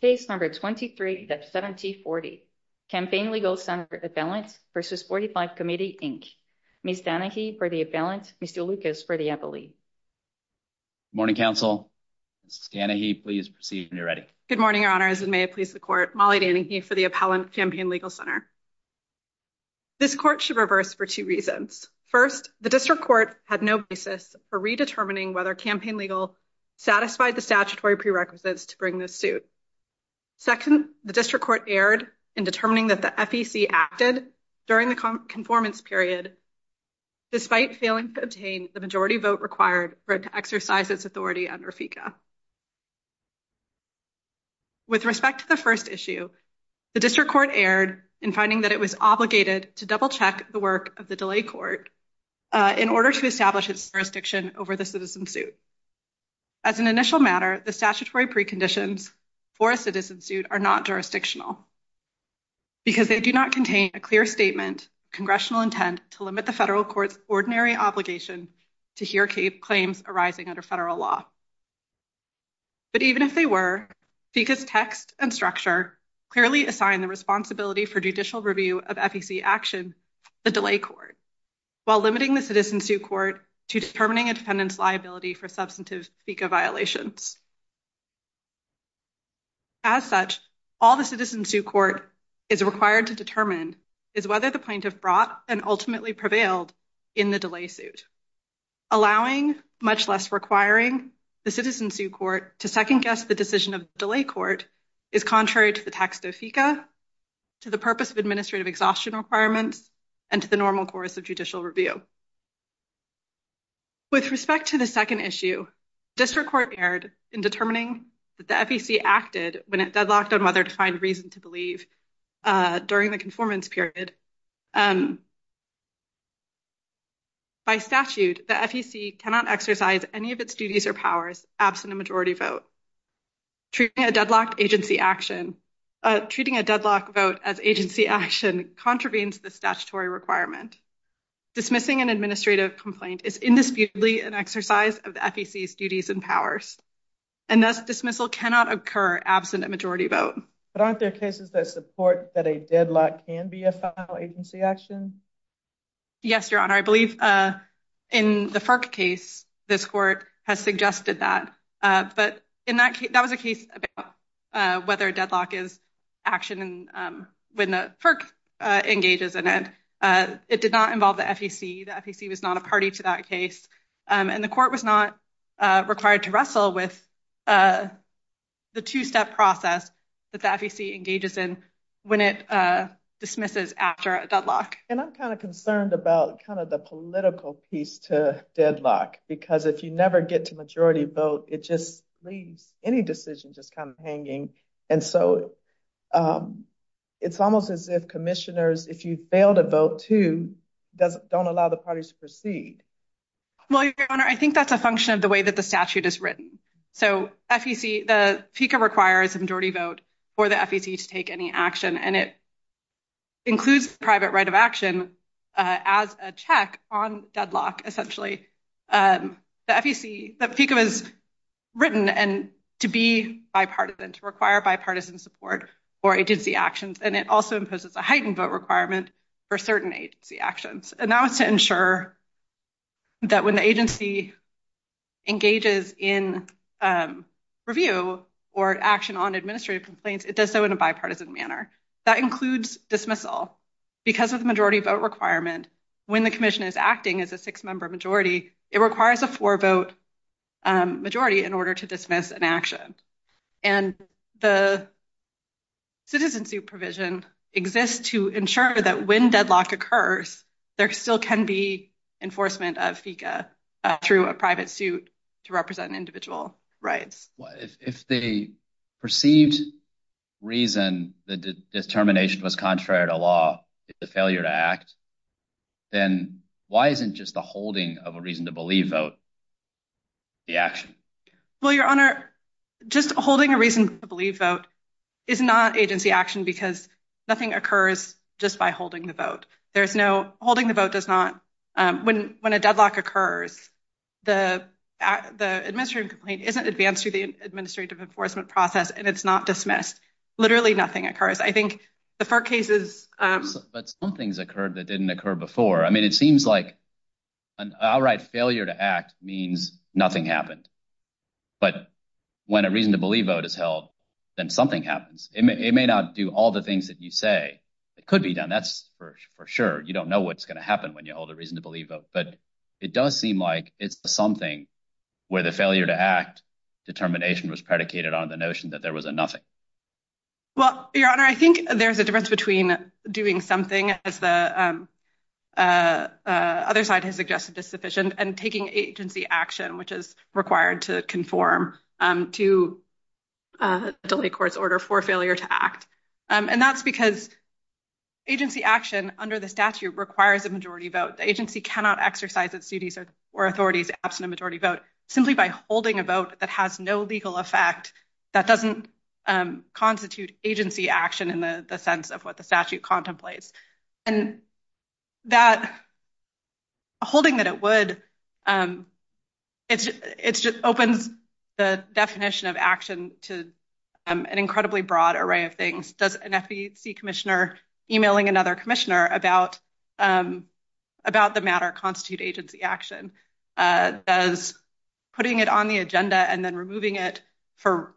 Ms. Danahy for the appellant, Mr. Lucas for the appellee. Good morning, counsel. Ms. Danahy, please proceed when you're ready. Good morning, your honors, and may it please the court. Molly Danahy for the appellant, Campaign Legal Center. This court should reverse for two reasons. First, the district court had no basis for redetermining whether Campaign Legal satisfied the statutory prerequisites to bring this suit. Second, the district court erred in determining that the FEC acted during the conformance period, despite failing to obtain the majority vote required for it to exercise its authority under FECA. With respect to the first issue, the district court erred in finding that it was obligated to double-check the work of the delay court in order to establish its jurisdiction over the citizen suit. As an initial matter, the statutory preconditions for a citizen suit are not jurisdictional because they do not contain a clear statement, congressional intent to limit the federal court's ordinary obligation to hear claims arising under federal law. But even if they were, FECA's text and structure clearly assign the responsibility for judicial review of FECA action to the delay court, while limiting the citizen suit court to determining a defendant's liability for substantive FECA violations. As such, all the citizen suit court is required to determine is whether the plaintiff brought and ultimately prevailed in the delay suit. Allowing, much less requiring, the citizen suit court to second-guess the decision of the delay court is contrary to the text of FECA, to the purpose of administrative exhaustion requirements, and to the normal course of judicial review. With respect to the second issue, district court erred in determining that the FEC acted when it deadlocked on whether to find reason to believe during the conformance period. By statute, the FEC cannot exercise any of its duties or powers absent a majority vote. Treating a deadlocked vote as agency action contravenes the statutory requirement. Dismissing an administrative complaint is indisputably an exercise of the FEC's duties and powers. And thus, dismissal cannot occur absent a majority vote. But aren't there cases that support that a deadlock can be a file agency action? Yes, Your Honor. I believe in the FERC case, this court has suggested that. But that was a case about whether a deadlock is action when the FERC engages in it. It did not involve the FEC. The FEC was not a party to that case. And the court was not required to wrestle with the two-step process that the FEC engages in when it dismisses after a deadlock. And I'm kind of concerned about kind of the political piece to deadlock. Because if you never get to majority vote, it just leaves any decision just kind of hanging. And so it's almost as if commissioners, if you fail to vote too, don't allow the parties to proceed. Well, Your Honor, I think that's a function of the way that the statute is written. So FEC, the FECA requires a majority vote for the FEC to take any action. And it includes private right of action as a check on deadlock, essentially. The FEC, the FECA is written to be bipartisan, to require bipartisan support for agency actions. And it also imposes a heightened vote requirement for certain agency actions. And that was to ensure that when the agency engages in review or action on administrative complaints, it does so in a bipartisan manner. That includes dismissal. Because of the majority vote requirement, when the commission is acting as a six-member majority, it requires a four-vote majority in order to dismiss an action. And the citizen supervision exists to ensure that when deadlock occurs, there still can be enforcement of FECA through a private suit to represent individual rights. If the perceived reason the determination was contrary to law, the failure to act, then why isn't just the holding of a reason to believe vote the action? Well, Your Honor, just holding a reason to believe vote is not agency action because nothing occurs just by holding the vote. There is no holding. The vote does not. When a deadlock occurs, the administrative complaint isn't advanced through the administrative enforcement process and it's not dismissed. Literally nothing occurs. I think the FARC cases. But some things occurred that didn't occur before. I mean, it seems like an outright failure to act means nothing happened. But when a reason to believe vote is held, then something happens. It may not do all the things that you say it could be done. That's for sure. You don't know what's going to happen when you hold a reason to believe vote. But it does seem like it's something where the failure to act determination was predicated on the notion that there was a nothing. Well, Your Honor, I think there's a difference between doing something as the other side has suggested is sufficient and taking agency action, which is required to conform to the courts order for failure to act. And that's because agency action under the statute requires a majority vote. The agency cannot exercise its duties or authorities absent a majority vote simply by holding a vote that has no legal effect. That doesn't constitute agency action in the sense of what the statute contemplates. And that. Holding that it would. It's just opens the definition of action to an incredibly broad array of things. Does an FEC commissioner emailing another commissioner about about the matter constitute agency action? Does putting it on the agenda and then removing it for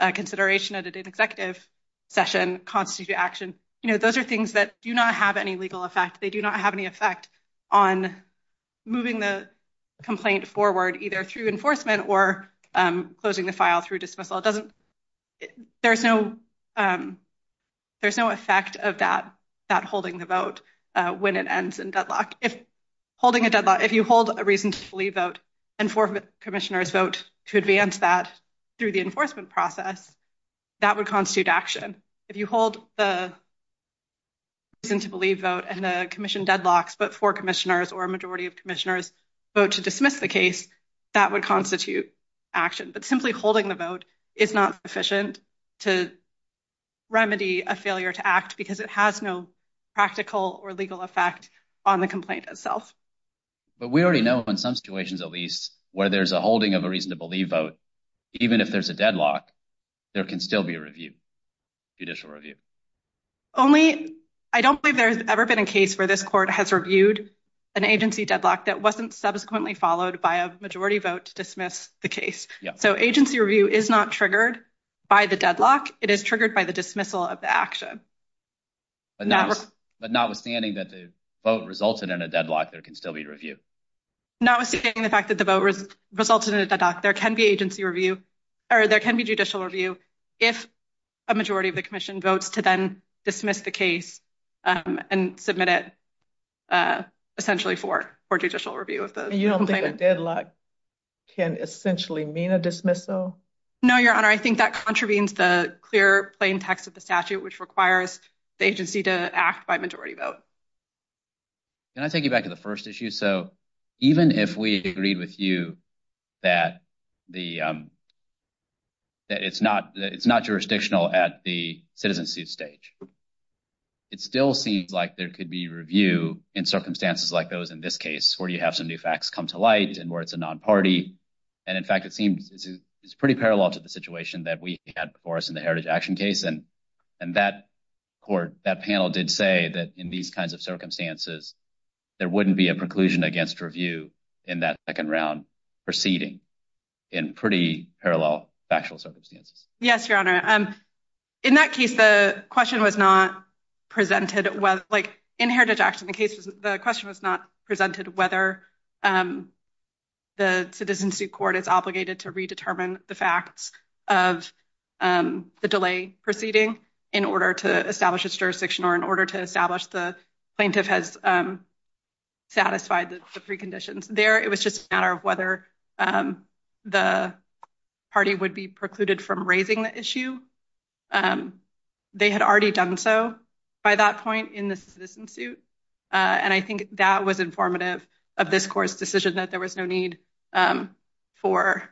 consideration at an executive session constitute action? You know, those are things that do not have any legal effect. They do not have any effect on moving the complaint forward, either through enforcement or closing the file through dismissal. It doesn't. There's no there's no effect of that, that holding the vote when it ends in deadlock. If holding a deadlock, if you hold a reason to believe vote and four commissioners vote to advance that through the enforcement process, that would constitute action. If you hold the. And to believe vote and the commission deadlocks, but four commissioners or a majority of commissioners vote to dismiss the case, that would constitute action. But simply holding the vote is not sufficient to remedy a failure to act because it has no practical or legal effect on the complaint itself. But we already know in some situations, at least where there's a holding of a reason to believe vote, even if there's a deadlock, there can still be a review. Judicial review only. I don't believe there's ever been a case where this court has reviewed an agency deadlock that wasn't subsequently followed by a majority vote to dismiss the case. So agency review is not triggered by the deadlock. It is triggered by the dismissal of the action. But notwithstanding that the vote resulted in a deadlock, there can still be review. Notwithstanding the fact that the voters resulted in a deadlock, there can be agency review or there can be judicial review if a majority of the commission votes to then dismiss the case and submit it. Essentially for judicial review of the deadlock can essentially mean a dismissal. No, your honor, I think that contravenes the clear plain text of the statute, which requires the agency to act by majority vote. Can I take you back to the first issue? So even if we agreed with you that the. That it's not it's not jurisdictional at the citizenship stage. It still seems like there could be review in circumstances like those in this case where you have some new facts come to light and where it's a non party. And in fact, it seems it's pretty parallel to the situation that we had for us in the heritage action case. And and that court, that panel did say that in these kinds of circumstances, there wouldn't be a preclusion against review in that second round proceeding in pretty parallel factual circumstances. Yes, your honor. In that case, the question was not presented. Well, like in heritage action, the case, the question was not presented whether. The citizenship court is obligated to redetermine the facts of the delay proceeding in order to establish its jurisdiction or in order to establish the plaintiff has. Satisfied the preconditions there. It was just a matter of whether the party would be precluded from raising the issue. They had already done so by that point in the citizen suit. And I think that was informative of this court's decision that there was no need for.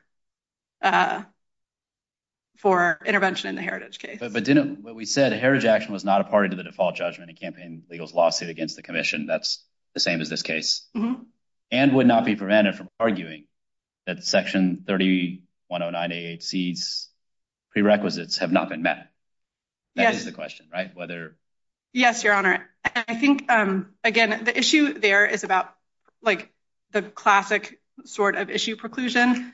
For intervention in the heritage case, but didn't what we said, heritage action was not a party to the default judgment and campaign legal lawsuit against the commission. That's the same as this case and would not be prevented from arguing that section thirty one oh nine C's prerequisites have not been met. That is the question, right? Whether yes, your honor. I think, again, the issue there is about like the classic sort of issue preclusion.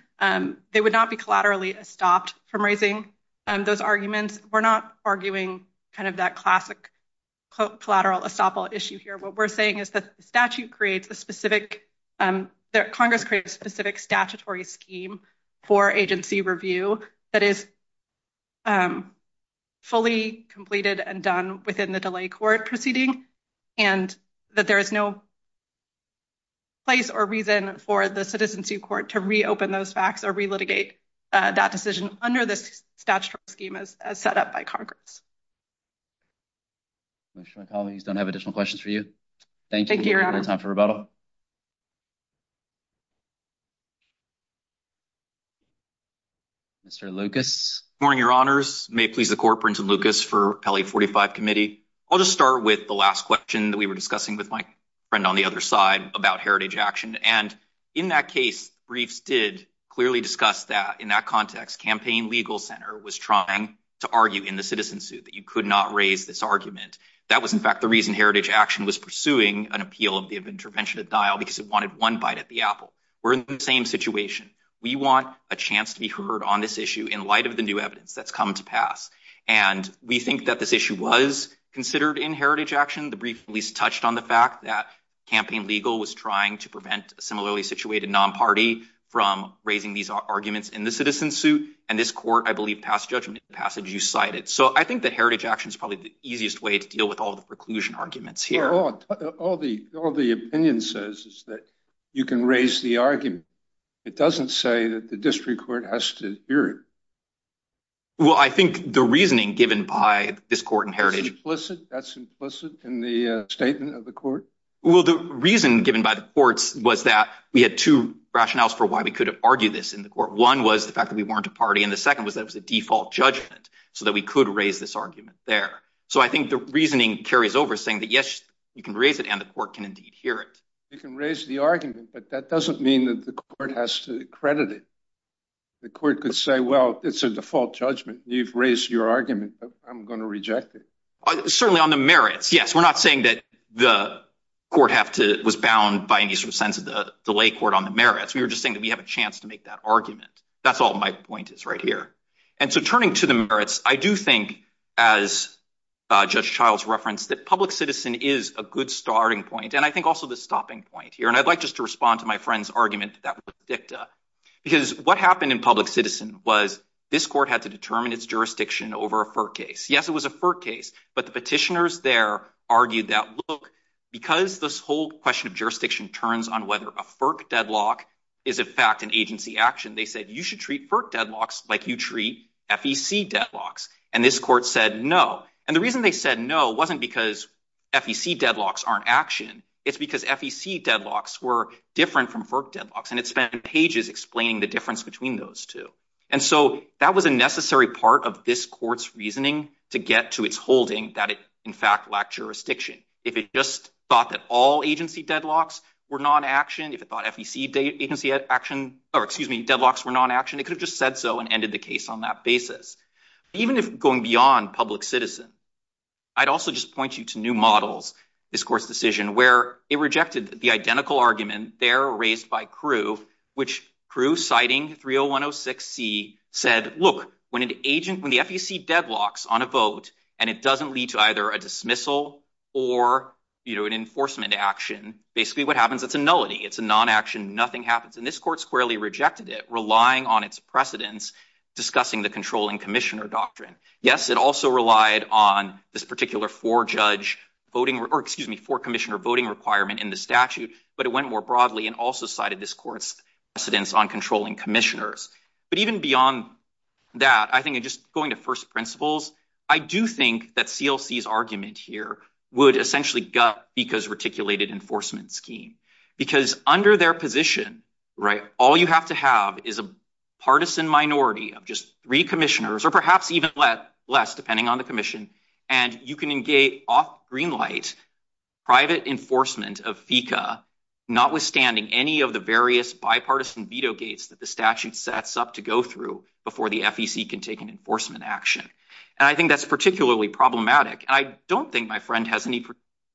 They would not be collaterally stopped from raising those arguments. We're not arguing kind of that classic collateral estoppel issue here. What we're saying is that the statute creates a specific that Congress creates specific statutory scheme for agency review. That is. Fully completed and done within the delay court proceeding and that there is no. Place or reason for the citizen to court to reopen those facts or relitigate that decision under this statute scheme as set up by Congress. My colleagues don't have additional questions for you. Thank you. Time for rebuttal. Mr. Lucas. Morning, your honors. May please the corporate and Lucas for 45 committee. I'll just start with the last question that we were discussing with my friend on the other side about heritage action. And in that case, briefs did clearly discuss that in that context, campaign legal center was trying to argue in the citizen suit that you could not raise this argument. That was, in fact, the reason heritage action was pursuing an appeal of the intervention of dial because it wanted one bite at the apple. We're in the same situation. We want a chance to be heard on this issue in light of the new evidence that's come to pass. And we think that this issue was considered in heritage action. The brief least touched on the fact that campaign legal was trying to prevent similarly situated non-party from raising these arguments in the citizen suit. And this court, I believe, passed judgment passage you cited. So I think that heritage action is probably the easiest way to deal with all the preclusion arguments here. All the all the opinion says is that you can raise the argument. It doesn't say that the district court has to hear it. Well, I think the reasoning given by this court in heritage was implicit. That's implicit in the statement of the court. Well, the reason given by the courts was that we had two rationales for why we could argue this in the court. One was the fact that we weren't a party. And the second was that was a default judgment so that we could raise this argument there. So I think the reasoning carries over saying that, yes, you can raise it and the court can indeed hear it. You can raise the argument, but that doesn't mean that the court has to credit it. The court could say, well, it's a default judgment. You've raised your argument. I'm going to reject it. Certainly on the merits. Yes. We're not saying that the court have to was bound by any sort of sense of the delay court on the merits. We were just saying that we have a chance to make that argument. That's all my point is right here. And so turning to the merits, I do think, as Judge Childs referenced, that public citizen is a good starting point. And I think also the stopping point here. And I'd like just to respond to my friend's argument. Because what happened in public citizen was this court had to determine its jurisdiction over a case. Yes, it was a case. But the petitioners there argued that look, because this whole question of jurisdiction turns on whether a FERC deadlock is, in fact, an agency action. They said you should treat FERC deadlocks like you treat FEC deadlocks. And this court said no. And the reason they said no wasn't because FEC deadlocks aren't action. It's because FEC deadlocks were different from FERC deadlocks. And it spent pages explaining the difference between those two. And so that was a necessary part of this court's reasoning to get to its holding that it, in fact, lacked jurisdiction. If it just thought that all agency deadlocks were non-action, if it thought FEC deadlocks were non-action, it could have just said so and ended the case on that basis. Even going beyond public citizen, I'd also just point you to new models, this court's decision, where it rejected the identical argument there raised by Crew, which Crew, citing 30106C, said, look, when the FEC deadlocks on a vote and it doesn't lead to either a dismissal or an enforcement action, basically what happens, it's a nullity. It's a non-action. Nothing happens. And this court squarely rejected it, relying on its precedents discussing the controlling commissioner doctrine. Yes, it also relied on this particular four-judge voting or, excuse me, four-commissioner voting requirement in the statute. But it went more broadly and also cited this court's precedents on controlling commissioners. But even beyond that, I think just going to first principles, I do think that CLC's argument here would essentially gut FECA's reticulated enforcement scheme. Because under their position, right, all you have to have is a partisan minority of just three commissioners, or perhaps even less, depending on the commission, and you can engage off green light private enforcement of FECA, notwithstanding any of the various bipartisan veto gates that the statute sets up to go through before the FEC can take an enforcement action. And I think that's particularly problematic. And I don't think my friend has any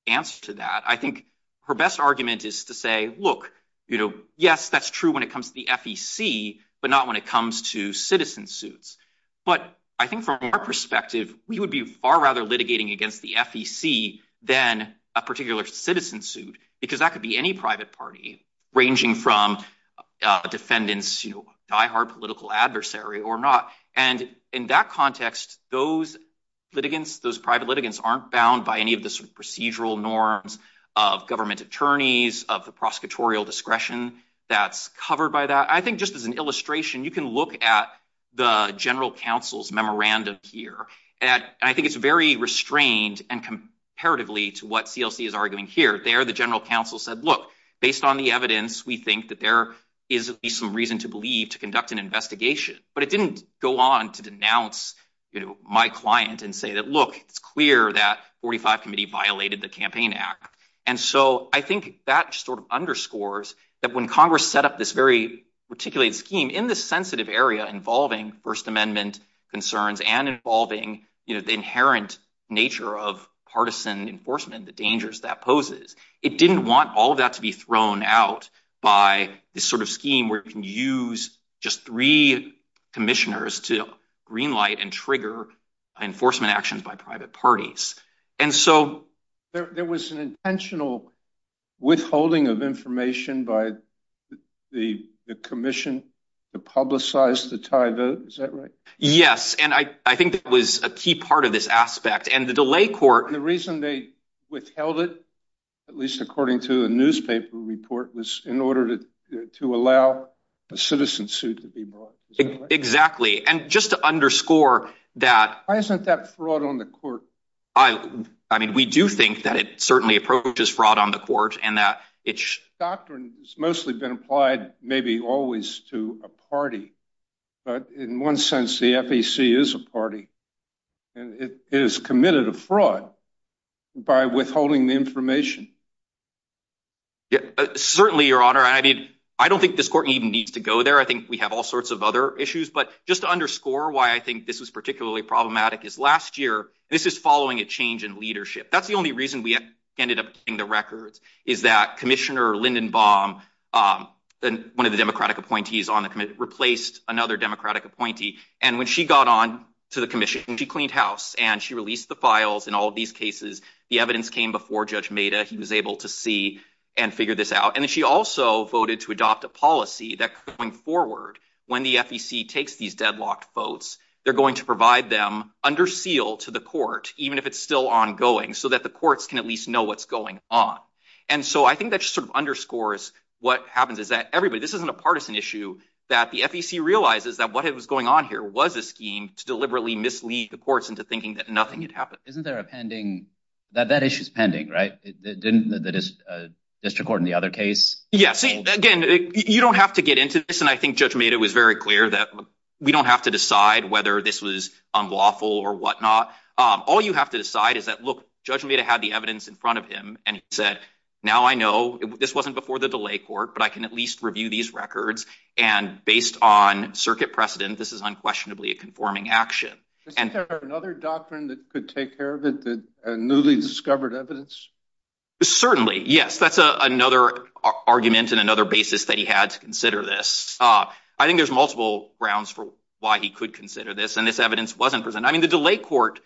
answer to that. I think her best argument is to say, look, you know, yes, that's true when it comes to the FEC, but not when it comes to citizen suits. But I think from our perspective, we would be far rather litigating against the FEC than a particular citizen suit, because that could be any private party ranging from defendants, you know, diehard political adversary or not. And in that context, those litigants, those private litigants aren't bound by any of the procedural norms of government attorneys, of the prosecutorial discretion that's covered by that. I think just as an illustration, you can look at the general counsel's memorandum here. And I think it's very restrained and comparatively to what CLC is arguing here. There, the general counsel said, look, based on the evidence, we think that there is some reason to believe to conduct an investigation. But it didn't go on to denounce my client and say that, look, it's clear that 45 committee violated the Campaign Act. And so I think that sort of underscores that when Congress set up this very articulated scheme in this sensitive area involving First Amendment concerns and involving the inherent nature of partisan enforcement, the dangers that poses, it didn't want all of that to be thrown out by this sort of scheme where you can use just three commissioners to green light and trigger enforcement actions by private parties. And so there was an intentional withholding of information by the commission to publicize the tie vote. Is that right? Yes. And I think that was a key part of this aspect. And the reason they withheld it, at least according to a newspaper report, was in order to allow a citizen suit to be brought. Exactly. And just to underscore that. Why isn't that fraud on the court? I mean, we do think that it certainly approaches fraud on the court and that it's. Doctrine has mostly been applied, maybe always to a party. But in one sense, the FEC is a party and it is committed a fraud by withholding the information. Certainly, Your Honor, I mean, I don't think this court even needs to go there. I think we have all sorts of other issues. But just to underscore why I think this was particularly problematic is last year. This is following a change in leadership. That's the only reason we ended up in the records is that Commissioner Lindenbaum, one of the Democratic appointees on the committee, replaced another Democratic appointee. And when she got on to the commission, she cleaned house and she released the files. In all of these cases, the evidence came before Judge Meda. He was able to see and figure this out. And then she also voted to adopt a policy that going forward, when the FEC takes these deadlocked votes, they're going to provide them under seal to the court, even if it's still ongoing, so that the courts can at least know what's going on. And so I think that sort of underscores what happens is that everybody, this isn't a partisan issue, that the FEC realizes that what was going on here was a scheme to deliberately mislead the courts into thinking that nothing had happened. Isn't there a pending that that issue is pending, right? Didn't the district court in the other case? Yes. Again, you don't have to get into this. Again, I think Judge Meda was very clear that we don't have to decide whether this was unlawful or whatnot. All you have to decide is that, look, Judge Meda had the evidence in front of him and said, now I know this wasn't before the delay court, but I can at least review these records. And based on circuit precedent, this is unquestionably a conforming action. Isn't there another doctrine that could take care of it, the newly discovered evidence? Certainly, yes. That's another argument and another basis that he had to consider this. I think there's multiple grounds for why he could consider this, and this evidence wasn't presented. I mean, the delay court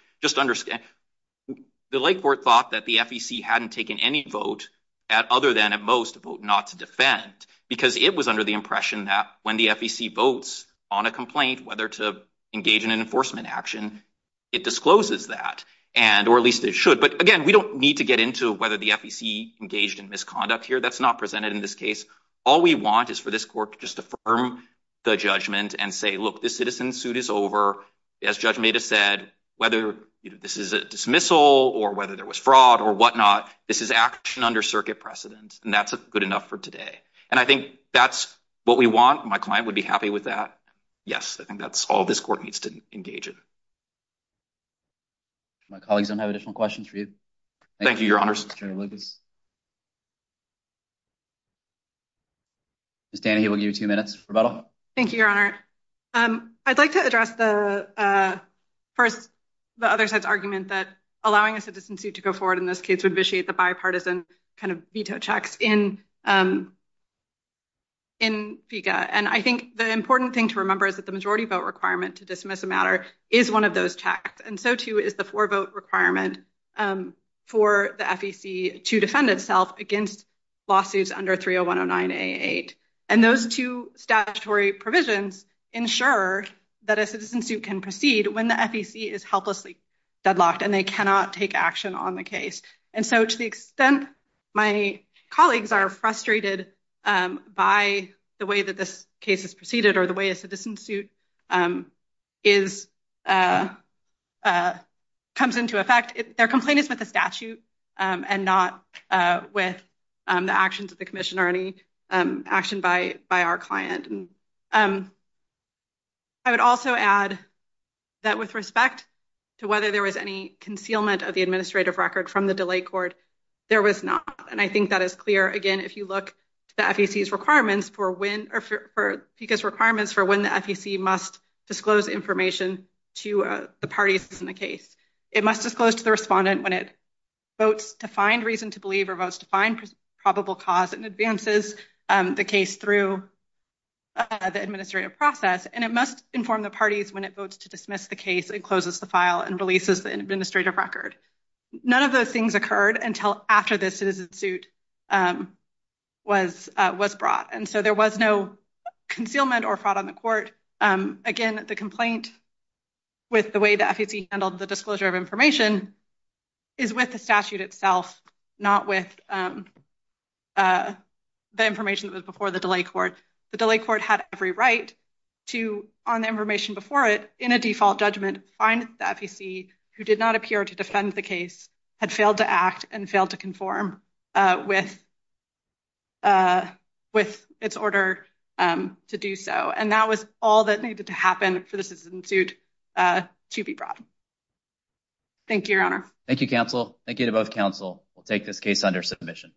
thought that the FEC hadn't taken any vote, other than at most a vote not to defend, because it was under the impression that when the FEC votes on a complaint, whether to engage in an enforcement action, it discloses that, or at least it should. But again, we don't need to get into whether the FEC engaged in misconduct here. That's not presented in this case. All we want is for this court to just affirm the judgment and say, look, this citizen suit is over. As Judge Meda said, whether this is a dismissal or whether there was fraud or whatnot, this is action under circuit precedent. And that's good enough for today. And I think that's what we want. My client would be happy with that. Yes, I think that's all this court needs to engage in. My colleagues don't have additional questions for you. Thank you, Your Honor. Ms. Danahy, we'll give you two minutes for rebuttal. Thank you, Your Honor. I'd like to address the first, the other side's argument that allowing a citizen suit to go forward in this case would vitiate the bipartisan kind of veto checks in FECA. And I think the important thing to remember is that the majority vote requirement to dismiss a matter is one of those checks. And so, too, is the four vote requirement for the FEC to defend itself against lawsuits under 30109A8. And those two statutory provisions ensure that a citizen suit can proceed when the FEC is helplessly deadlocked and they cannot take action on the case. And so to the extent my colleagues are frustrated by the way that this case is proceeded or the way a citizen suit is comes into effect, their complaint is with the statute and not with the actions of the commission or any action by by our client. I would also add that with respect to whether there was any concealment of the administrative record from the delay court, there was not. And I think that is clear, again, if you look at the FEC's requirements for when or for FECA's requirements for when the FEC must disclose information to the parties in the case. It must disclose to the respondent when it votes to find reason to believe or votes to find probable cause and advances the case through the administrative process. And it must inform the parties when it votes to dismiss the case and closes the file and releases the administrative record. None of those things occurred until after this citizen suit was was brought. And so there was no concealment or fraud on the court. Again, the complaint with the way the FEC handled the disclosure of information is with the statute itself, not with the information that was before the delay court. The delay court had every right to, on the information before it, in a default judgment, find the FEC who did not appear to defend the case, had failed to act and failed to conform with with its order to do so. And that was all that needed to happen for the citizen suit to be brought. Thank you, Your Honor. Thank you, counsel. Thank you to both counsel. We'll take this case under submission.